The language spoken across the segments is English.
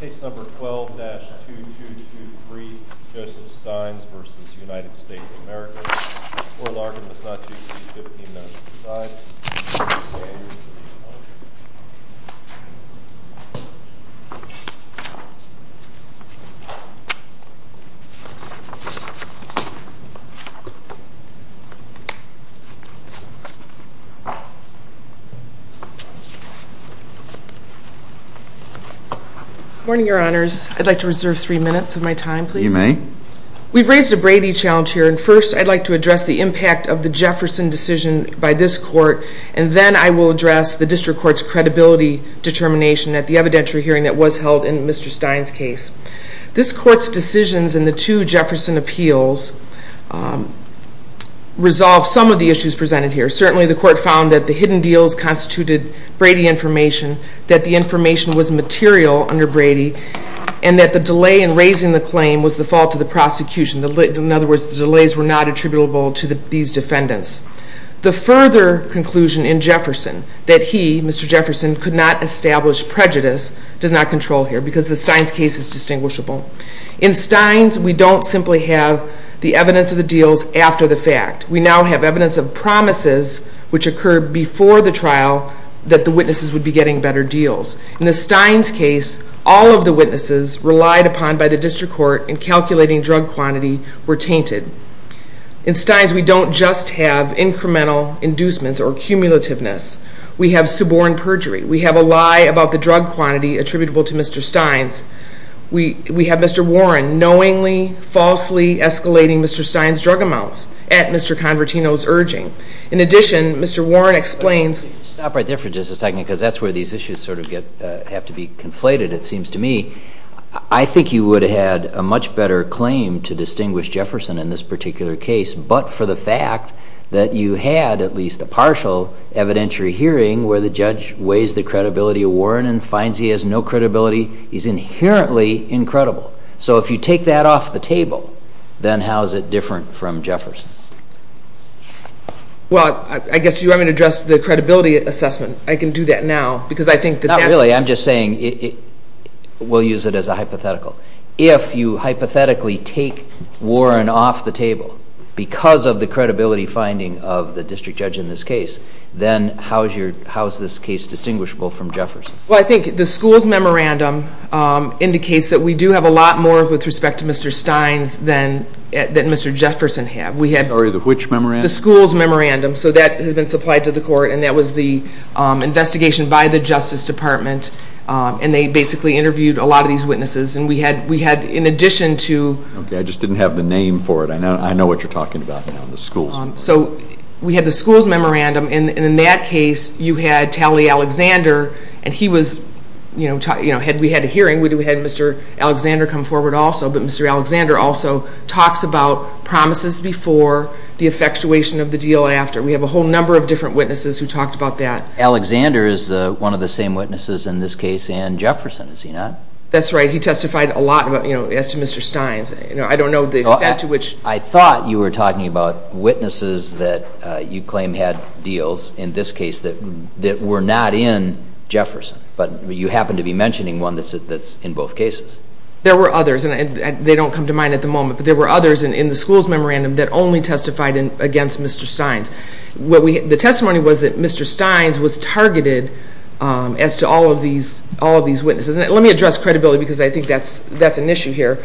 Case number 12-2223, Joseph Stines v. United States of America. Good morning, Your Honors. I'd like to reserve three minutes of my time, please. You may. We've raised a Brady challenge here, and first I'd like to address the impact of the Jefferson decision by this Court, and then I will address the District Court's credibility determination at the evidentiary hearing that was held in Mr. Stines' case. This Court's decisions in the two Jefferson appeals resolved some of the issues presented here. Certainly the Court found that the hidden deals constituted Brady information, that the information was material under Brady, and that the delay in raising the claim was the fault of the prosecution. In other words, the delays were not attributable to these defendants. The further conclusion in Jefferson that he, Mr. Jefferson, could not establish prejudice does not control here, because the Stines case is distinguishable. In Stines, we don't simply have the evidence of the deals after the fact. We now have evidence of promises which occurred before the trial that the witnesses would be getting better deals. In the Stines case, all of the witnesses relied upon by the District Court in calculating drug quantity were tainted. In Stines, we don't just have incremental inducements or cumulativeness. We have suborn perjury. We have a lie about the drug quantity attributable to Mr. Stines. We have Mr. Warren knowingly, falsely escalating Mr. Stines' drug amounts at Mr. Convertino's urging. In addition, Mr. Warren explains... Stop right there for just a second, because that's where these issues sort of have to be conflated, it seems to me. I think you would have had a much better claim to distinguish Jefferson in this particular case, but for the fact that you had at least a partial evidentiary hearing where the judge weighs the credibility of Warren and finds he has no credibility is inherently incredible. So if you take that off the table, then how is it different from Jefferson? Well, I guess you want me to address the credibility assessment. I can do that now. Not really. I'm just saying we'll use it as a hypothetical. If you hypothetically take Warren off the table because of the credibility finding of the district judge in this case, then how is this case distinguishable from Jefferson's? Well, I think the school's memorandum indicates that we do have a lot more with respect to Mr. Stines than Mr. Jefferson had. Sorry, which memorandum? The school's memorandum. So that has been supplied to the court, and that was the investigation by the Justice Department, and they basically interviewed a lot of these witnesses, and we had in addition to... Okay, I just didn't have the name for it. I know what you're talking about now, the school's. So we had the school's memorandum, and in that case, you had Talley Alexander, and we had a hearing. We had Mr. Alexander come forward also, but Mr. Alexander also talks about promises before the effectuation of the deal after. We have a whole number of different witnesses who talked about that. Alexander is one of the same witnesses in this case and Jefferson, is he not? That's right. He testified a lot as to Mr. Stines. I don't know the extent to which... There were witnesses that you claim had deals in this case that were not in Jefferson, but you happen to be mentioning one that's in both cases. There were others, and they don't come to mind at the moment, but there were others in the school's memorandum that only testified against Mr. Stines. The testimony was that Mr. Stines was targeted as to all of these witnesses, and let me address credibility because I think that's an issue here.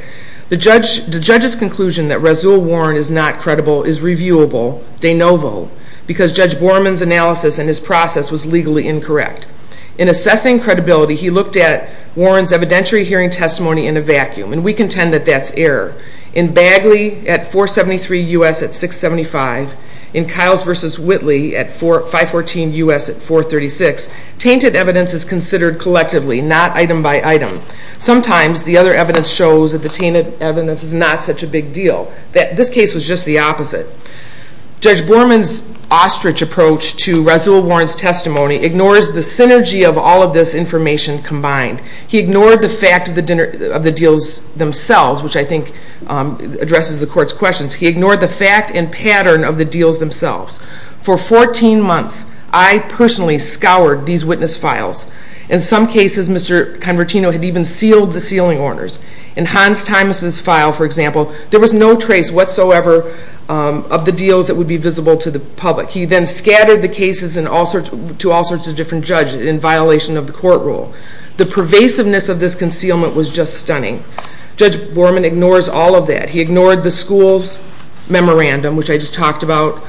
The judge's conclusion that Razul Warren is not credible is reviewable de novo because Judge Borman's analysis and his process was legally incorrect. In assessing credibility, he looked at Warren's evidentiary hearing testimony in a vacuum, and we contend that that's error. In Bagley at 473 U.S. at 675, in Kiles v. Whitley at 514 U.S. at 436, tainted evidence is considered collectively, not item by item. Sometimes the other evidence shows that the tainted evidence is not such a big deal. This case was just the opposite. Judge Borman's ostrich approach to Razul Warren's testimony ignores the synergy of all of this information combined. He ignored the fact of the deals themselves, which I think addresses the court's questions. He ignored the fact and pattern of the deals themselves. For 14 months, I personally scoured these witness files. In some cases, Mr. Convertino had even sealed the sealing orders. In Hans Thymus's file, for example, there was no trace whatsoever of the deals that would be visible to the public. He then scattered the cases to all sorts of different judges in violation of the court rule. The pervasiveness of this concealment was just stunning. Judge Borman ignores all of that. He ignored the school's memorandum, which I just talked about.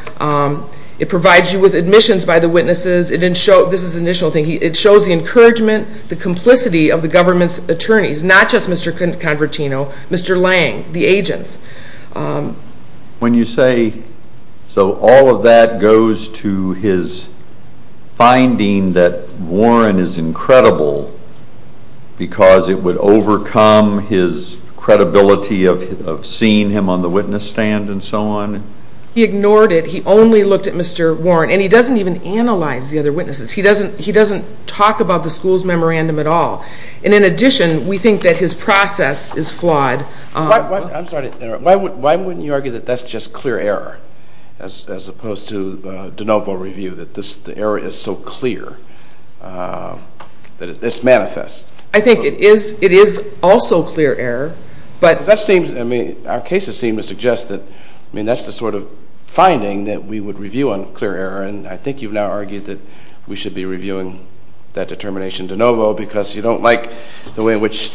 It provides you with admissions by the witnesses. This is an initial thing. It shows the encouragement, the complicity of the government's attorneys, not just Mr. Convertino, Mr. Lange, the agents. When you say all of that goes to his finding that Warren is incredible because it would overcome his credibility of seeing him on the witness stand and so on? He ignored it. He only looked at Mr. Warren, and he doesn't even analyze the other witnesses. He doesn't talk about the school's memorandum at all. In addition, we think that his process is flawed. I'm sorry to interrupt. Why wouldn't you argue that that's just clear error as opposed to de novo review, that the error is so clear that it's manifest? I think it is also clear error. Our cases seem to suggest that that's the sort of finding that we would review on clear error, and I think you've now argued that we should be reviewing that determination de novo because you don't like the way in which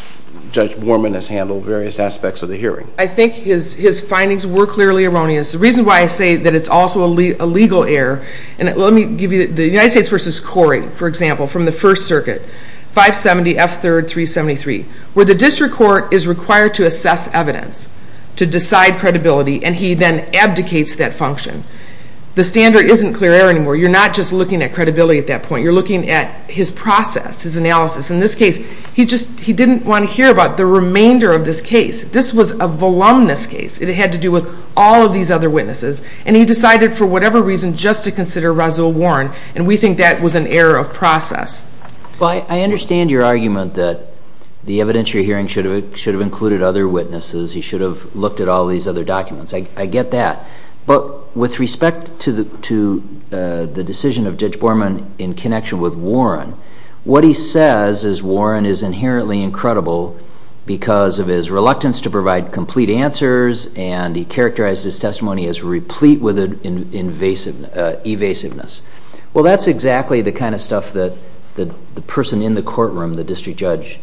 Judge Borman has handled various aspects of the hearing. I think his findings were clearly erroneous. The reason why I say that it's also a legal error, and let me give you the United States v. Corey, for example, from the First Circuit, 570 F. 3rd. 373, where the district court is required to assess evidence to decide credibility, and he then abdicates that function. The standard isn't clear error anymore. You're not just looking at credibility at that point. You're looking at his process, his analysis. In this case, he didn't want to hear about the remainder of this case. This was a voluminous case. It had to do with all of these other witnesses, and he decided for whatever reason just to consider Roswell Warren, and we think that was an error of process. I understand your argument that the evidence you're hearing should have included other witnesses. He should have looked at all these other documents. I get that. But with respect to the decision of Judge Borman in connection with Warren, what he says is Warren is inherently incredible because of his reluctance to provide complete answers, and he characterized his testimony as replete with evasiveness. Well, that's exactly the kind of stuff that the person in the courtroom, the district judge,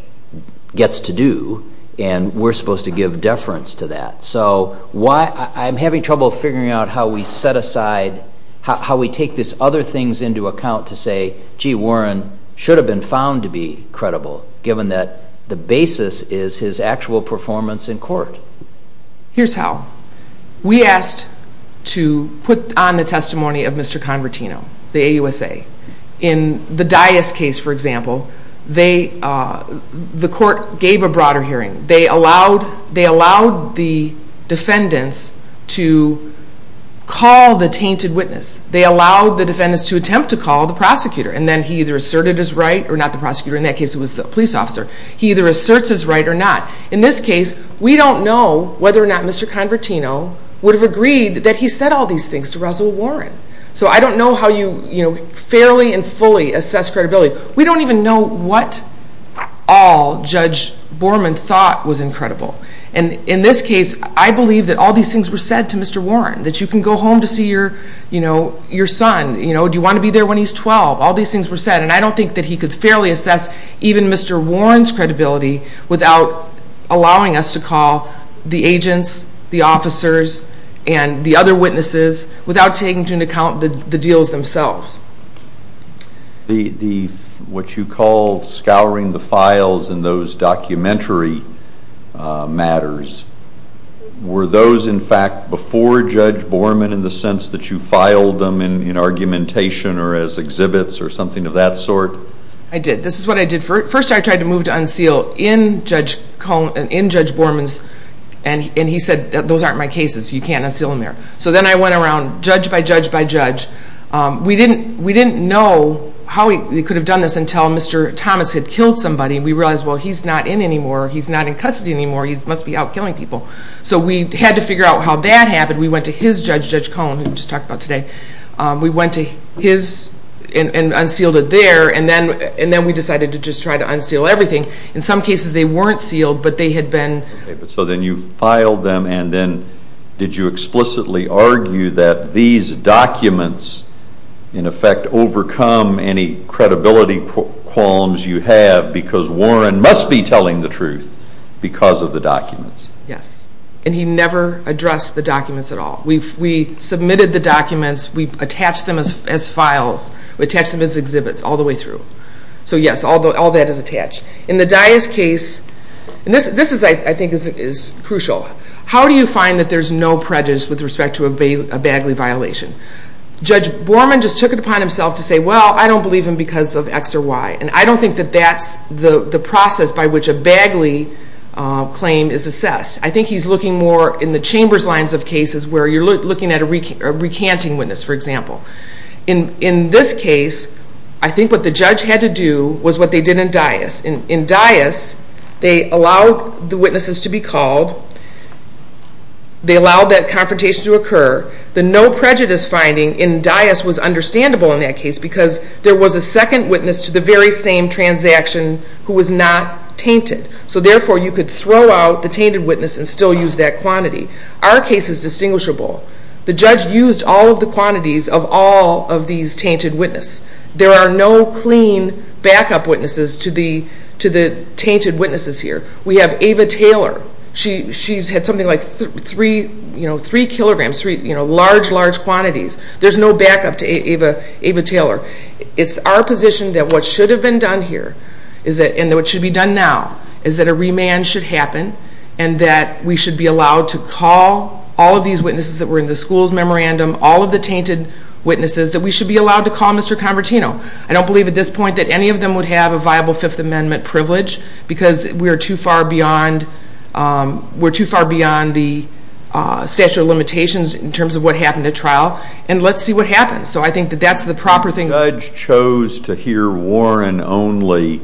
gets to do, and we're supposed to give deference to that. So I'm having trouble figuring out how we set aside, how we take these other things into account to say, gee, Warren should have been found to be incredible given that the basis is his actual performance in court. Here's how. We asked to put on the testimony of Mr. Convertino, the AUSA. In the Dyess case, for example, the court gave a broader hearing. They allowed the defendants to call the tainted witness. They allowed the defendants to attempt to call the prosecutor, and then he either asserted his right or not the prosecutor. In that case, it was the police officer. He either asserts his right or not. In this case, we don't know whether or not Mr. Convertino would have agreed that he said all these things to Russell Warren. So I don't know how you fairly and fully assess credibility. We don't even know what all Judge Borman thought was incredible. And in this case, I believe that all these things were said to Mr. Warren, that you can go home to see your son. Do you want to be there when he's 12? All these things were said, and I don't think that he could fairly assess even Mr. Warren's credibility without allowing us to call the agents, the officers, and the other witnesses without taking into account the deals themselves. What you call scouring the files in those documentary matters, were those in fact before Judge Borman in the sense that you filed them in argumentation or as exhibits or something of that sort? I did. This is what I did. First, I tried to move to unseal in Judge Borman's, and he said, those aren't my cases. You can't unseal in there. So then I went around judge by judge by judge. We didn't know how he could have done this until Mr. Thomas had killed somebody. We realized, well, he's not in anymore. He's not in custody anymore. He must be out killing people. So we had to figure out how that happened. We went to his judge, Judge Cohen, who we just talked about today. We went to his and unsealed it there, and then we decided to just try to unseal everything. In some cases, they weren't sealed, but they had been. So then you filed them, and then did you explicitly argue that these documents, in effect, overcome any credibility qualms you have because Warren must be telling the truth because of the documents? Yes, and he never addressed the documents at all. We submitted the documents. We attached them as files. We attached them as exhibits all the way through. So yes, all that is attached. In the Dyess case, and this I think is crucial, how do you find that there's no prejudice with respect to a Bagley violation? Judge Borman just took it upon himself to say, well, I don't believe him because of X or Y, and I don't think that that's the process by which a Bagley claim is assessed. I think he's looking more in the chambers lines of cases where you're looking at a recanting witness, for example. In this case, I think what the judge had to do was what they did in Dyess. In Dyess, they allowed the witnesses to be called. They allowed that confrontation to occur. The no prejudice finding in Dyess was understandable in that case because there was a second witness to the very same transaction who was not tainted. So therefore, you could throw out the tainted witness and still use that quantity. Our case is distinguishable. The judge used all of the quantities of all of these tainted witnesses. There are no clean backup witnesses to the tainted witnesses here. We have Ava Taylor. She's had something like 3 kilograms, large, large quantities. There's no backup to Ava Taylor. It's our position that what should have been done here and what should be done now is that a remand should happen and that we should be allowed to call all of these witnesses that were in the school's memorandum, all of the tainted witnesses, that we should be allowed to call Mr. Convertino. I don't believe at this point that any of them would have a viable Fifth Amendment privilege because we're too far beyond the statute of limitations in terms of what happened at trial, and let's see what happens. So I think that that's the proper thing. The judge chose to hear Warren only.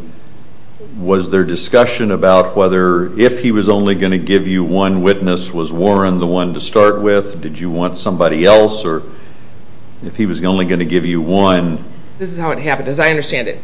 Was there discussion about whether if he was only going to give you one witness, was Warren the one to start with? Did you want somebody else, or if he was only going to give you one? This is how it happened, as I understand it.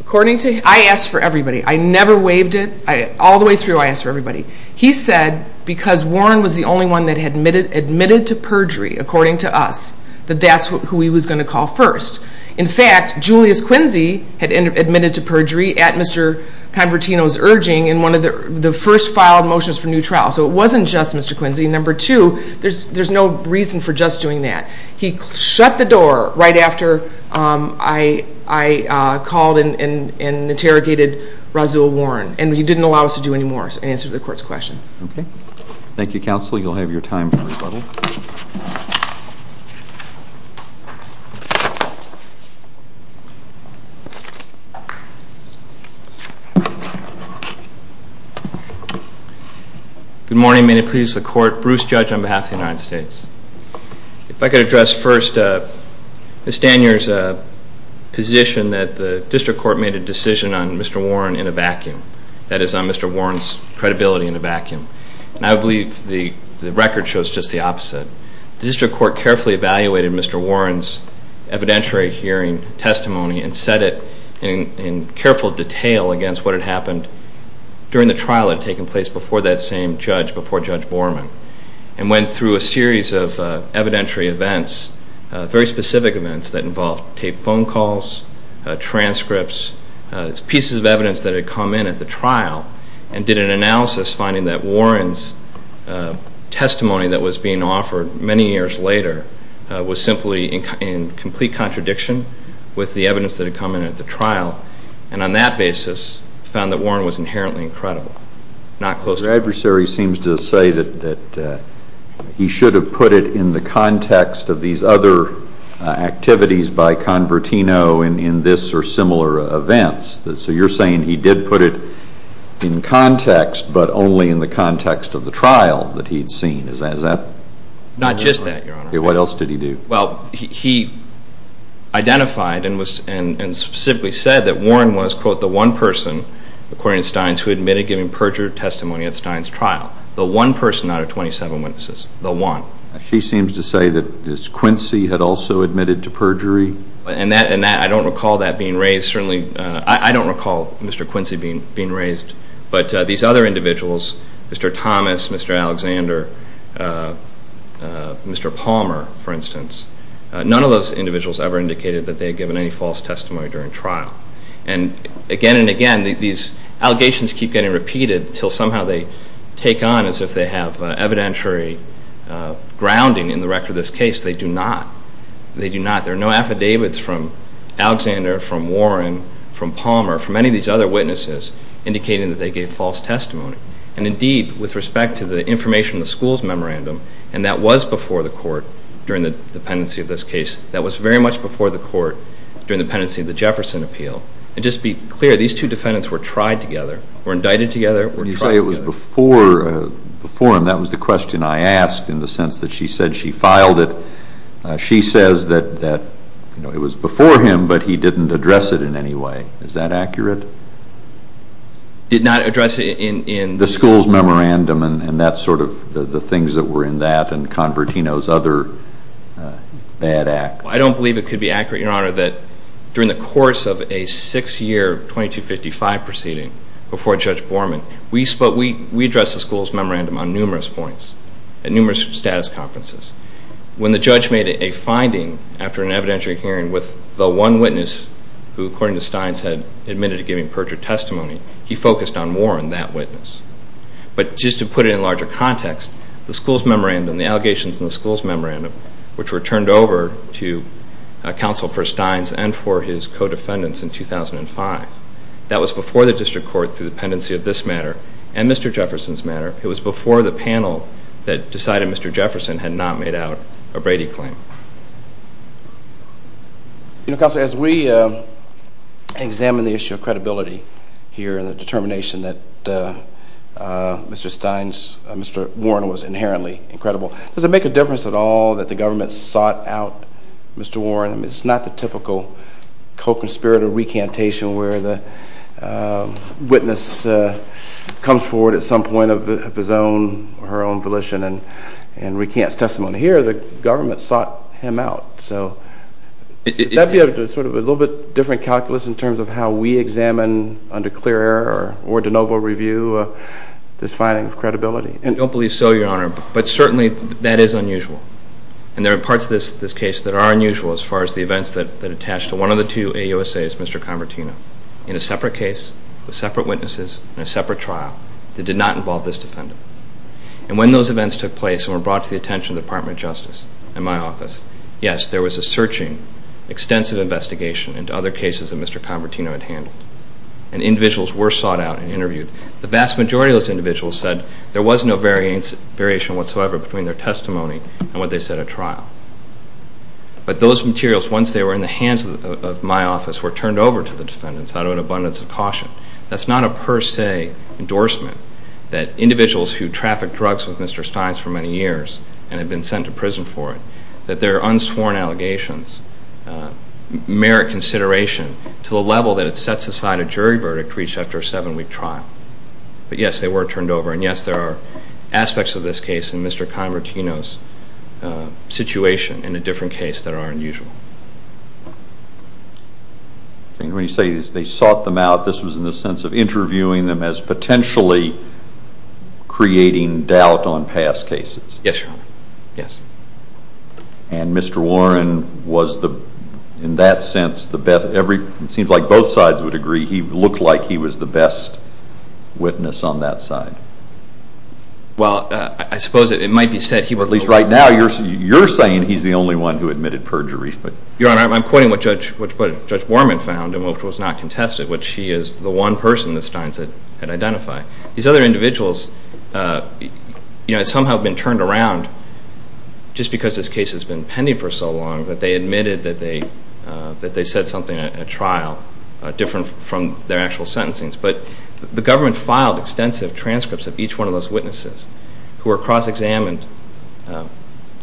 According to him, I asked for everybody. I never waived it. All the way through I asked for everybody. He said because Warren was the only one that had admitted to perjury, according to us, that that's who he was going to call first. In fact, Julius Quincy had admitted to perjury at Mr. Convertino's urging in one of the first filed motions for new trial. So it wasn't just Mr. Quincy. Number two, there's no reason for just doing that. He shut the door right after I called and interrogated Razul Warren, and he didn't allow us to do any more in answer to the court's question. Okay. Thank you, counsel. You'll have your time for rebuttal. Good morning. May it please the court. Bruce Judge on behalf of the United States. If I could address first Ms. Danier's position that the district court made a decision on Mr. Warren in a vacuum, that is on Mr. Warren's credibility in a vacuum. I believe the record shows just the opposite. The district court carefully evaluated Mr. Warren's evidentiary hearing testimony and said it in careful detail against what had happened during the trial that had taken place before that same judge, before Judge Borman, and went through a series of evidentiary events, very specific events that involved taped phone calls, transcripts, pieces of evidence that had come in at the trial, and did an analysis finding that Warren's testimony that was being offered many years later was simply in complete contradiction with the evidence that had come in at the trial, and on that basis found that Warren was inherently incredible, not close to it. Your adversary seems to say that he should have put it in the context of these other activities by Convertino in this or similar events, so you're saying he did put it in context but only in the context of the trial that he had seen. Is that? Not just that, Your Honor. What else did he do? Well, he identified and specifically said that Warren was, quote, the one person, according to Steins, who admitted giving perjured testimony at Steins' trial, the one person out of 27 witnesses, the one. She seems to say that Ms. Quincy had also admitted to perjury. And I don't recall that being raised. Certainly I don't recall Mr. Quincy being raised, but these other individuals, Mr. Thomas, Mr. Alexander, Mr. Palmer, for instance, none of those individuals ever indicated that they had given any false testimony during trial. And again and again, these allegations keep getting repeated until somehow they take on as if they have evidentiary grounding in the record of this case. They do not. They do not. There are no affidavits from Alexander, from Warren, from Palmer, from any of these other witnesses indicating that they gave false testimony. And indeed, with respect to the information in the school's memorandum, and that was before the court during the pendency of this case, that was very much before the court during the pendency of the Jefferson appeal. And just to be clear, these two defendants were tried together, were indicted together, were tried together. When you say it was before him, that was the question I asked in the sense that she said she filed it. She says that it was before him, but he didn't address it in any way. Is that accurate? Did not address it in the school's memorandum, and that's sort of the things that were in that and Convertino's other bad acts. I don't believe it could be accurate, Your Honor, that during the course of a six-year 2255 proceeding before Judge Borman, we addressed the school's memorandum on numerous points at numerous status conferences. When the judge made a finding after an evidentiary hearing with the one witness who, according to Steins, had admitted to giving perjured testimony, he focused on Warren, that witness. But just to put it in larger context, the school's memorandum, the allegations in the school's memorandum, which were turned over to counsel for Steins and for his co-defendants in 2005, that was before the district court through the pendency of this matter and Mr. Jefferson's matter. It was before the panel that decided Mr. Jefferson had not made out a Brady claim. Counsel, as we examine the issue of credibility here and the determination that Mr. Warren was inherently incredible, does it make a difference at all that the government sought out Mr. Warren? It's not the typical co-conspirator recantation where the witness comes forward at some point of his own or her own volition and recants testimony. Here, the government sought him out. That would be a little bit different calculus in terms of how we examine, under clear error or de novo review, this finding of credibility. I don't believe so, Your Honor, but certainly that is unusual. There are parts of this case that are unusual as far as the events that attach to one of the two AUSAs, Mr. Convertino, in a separate case with separate witnesses in a separate trial that did not involve this defendant. And when those events took place and were brought to the attention of the Department of Justice and my office, yes, there was a searching, extensive investigation into other cases that Mr. Convertino had handled. And individuals were sought out and interviewed. The vast majority of those individuals said there was no variation whatsoever between their testimony and what they said at trial. But those materials, once they were in the hands of my office, were turned over to the defendants out of an abundance of caution. That's not a per se endorsement that individuals who trafficked drugs with Mr. Stines for many years and had been sent to prison for it, that their unsworn allegations merit consideration to the level that it sets aside a jury verdict reached after a seven-week trial. But yes, they were turned over. And yes, there are aspects of this case and Mr. Convertino's situation in a different case that are unusual. When you say they sought them out, this was in the sense of interviewing them as potentially creating doubt on past cases. Yes, Your Honor. Yes. And Mr. Warren was, in that sense, it seems like both sides would agree, he looked like he was the best witness on that side. Well, I suppose it might be said he was. At least right now you're saying he's the only one who admitted perjury. Your Honor, I'm quoting what Judge Borman found and which was not contested, which he is the one person that Stines had identified. These other individuals had somehow been turned around just because this case has been pending for so long that they admitted that they said something in a trial different from their actual sentencing. But the government filed extensive transcripts of each one of those witnesses who were cross-examined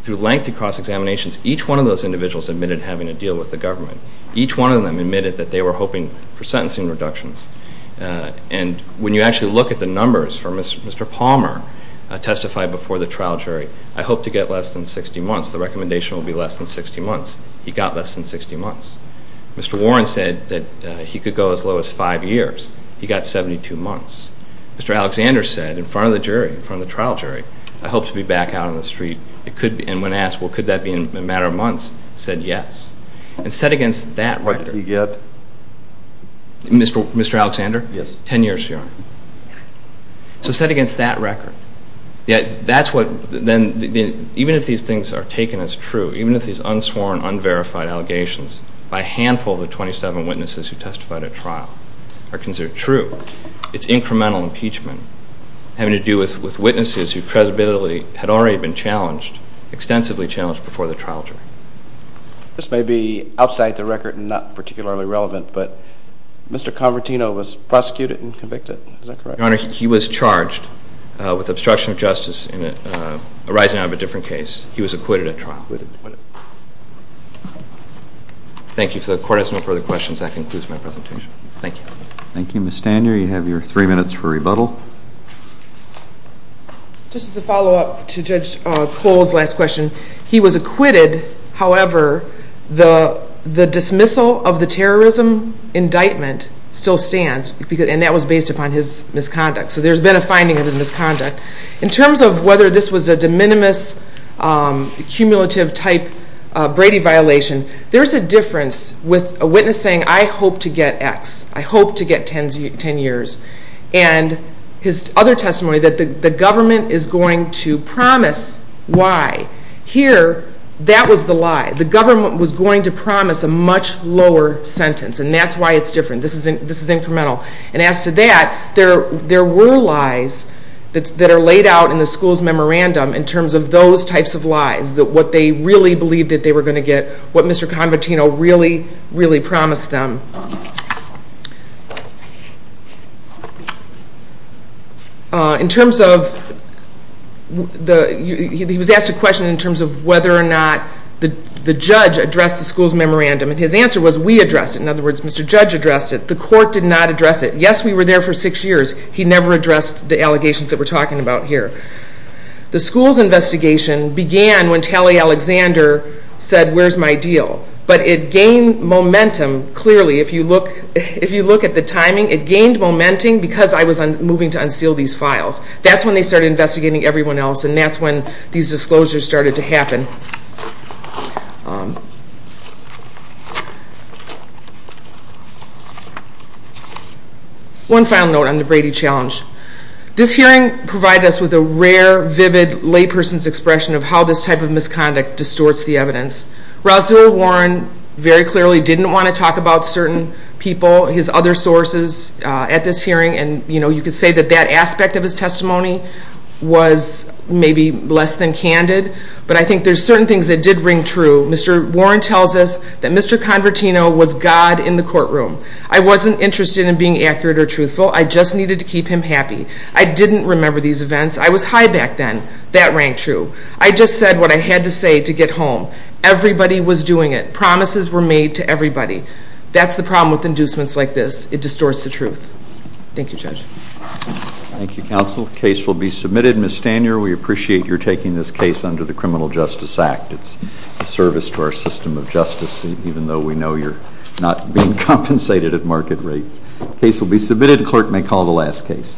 through lengthy cross-examinations. Each one of those individuals admitted having a deal with the government. Each one of them admitted that they were hoping for sentencing reductions. And when you actually look at the numbers, Mr. Palmer testified before the trial jury, I hope to get less than 60 months. The recommendation will be less than 60 months. He got less than 60 months. Mr. Warren said that he could go as low as five years. He got 72 months. Mr. Alexander said in front of the jury, in front of the trial jury, I hope to be back out on the street. And when asked, well, could that be in a matter of months, he said yes. And set against that record. What did he get? Mr. Alexander? Yes. Ten years, Your Honor. So set against that record. That's what then, even if these things are taken as true, even if these unsworn, unverified allegations by a handful of the 27 witnesses who testified at trial are considered true, it's incremental impeachment having to do with witnesses who presumably had already been challenged, extensively challenged before the trial jury. This may be outside the record and not particularly relevant, but Mr. Convertino was prosecuted and convicted. Is that correct? Your Honor, he was charged with obstruction of justice arising out of a different case. He was acquitted at trial. Thank you for the court. If there are no further questions, that concludes my presentation. Thank you. Thank you, Ms. Stanier. You have your three minutes for rebuttal. Just as a follow-up to Judge Cole's last question, he was acquitted. However, the dismissal of the terrorism indictment still stands, and that was based upon his misconduct. So there's been a finding of his misconduct. In terms of whether this was a de minimis, cumulative type Brady violation, there's a difference with a witness saying, I hope to get X. I hope to get 10 years. And his other testimony that the government is going to promise Y. Here, that was the lie. The government was going to promise a much lower sentence, and that's why it's different. This is incremental. And as to that, there were lies that are laid out in the school's memorandum in terms of those types of lies, what they really believed that they were going to get, what Mr. Convertino really, really promised them. He was asked a question in terms of whether or not the judge addressed the school's memorandum, and his answer was, we addressed it. In other words, Mr. Judge addressed it. The court did not address it. Yes, we were there for six years. He never addressed the allegations that we're talking about here. The school's investigation began when Tally Alexander said, where's my deal? But it gained momentum. Clearly, if you look at the timing, it gained momentum because I was moving to unseal these files. That's when they started investigating everyone else, and that's when these disclosures started to happen. One final note on the Brady Challenge. This hearing provided us with a rare, vivid layperson's expression of how this type of misconduct distorts the evidence. Rosalind Warren very clearly didn't want to talk about certain people, his other sources at this hearing, and you could say that that aspect of his testimony was maybe less than candid, but I think there's certain things that did ring true. Mr. Warren tells us that Mr. Convertino was God in the courtroom. I wasn't interested in being accurate or truthful. I just needed to keep him happy. I didn't remember these events. I was high back then. That rang true. I just said what I had to say to get home. Everybody was doing it. Promises were made to everybody. That's the problem with inducements like this. It distorts the truth. Thank you, Judge. Thank you, counsel. Case will be submitted. Ms. Stanier, we appreciate your taking this case under the Criminal Justice Act. It's a service to our system of justice, even though we know you're not being compensated at market rates. Case will be submitted. Clerk may call the last case.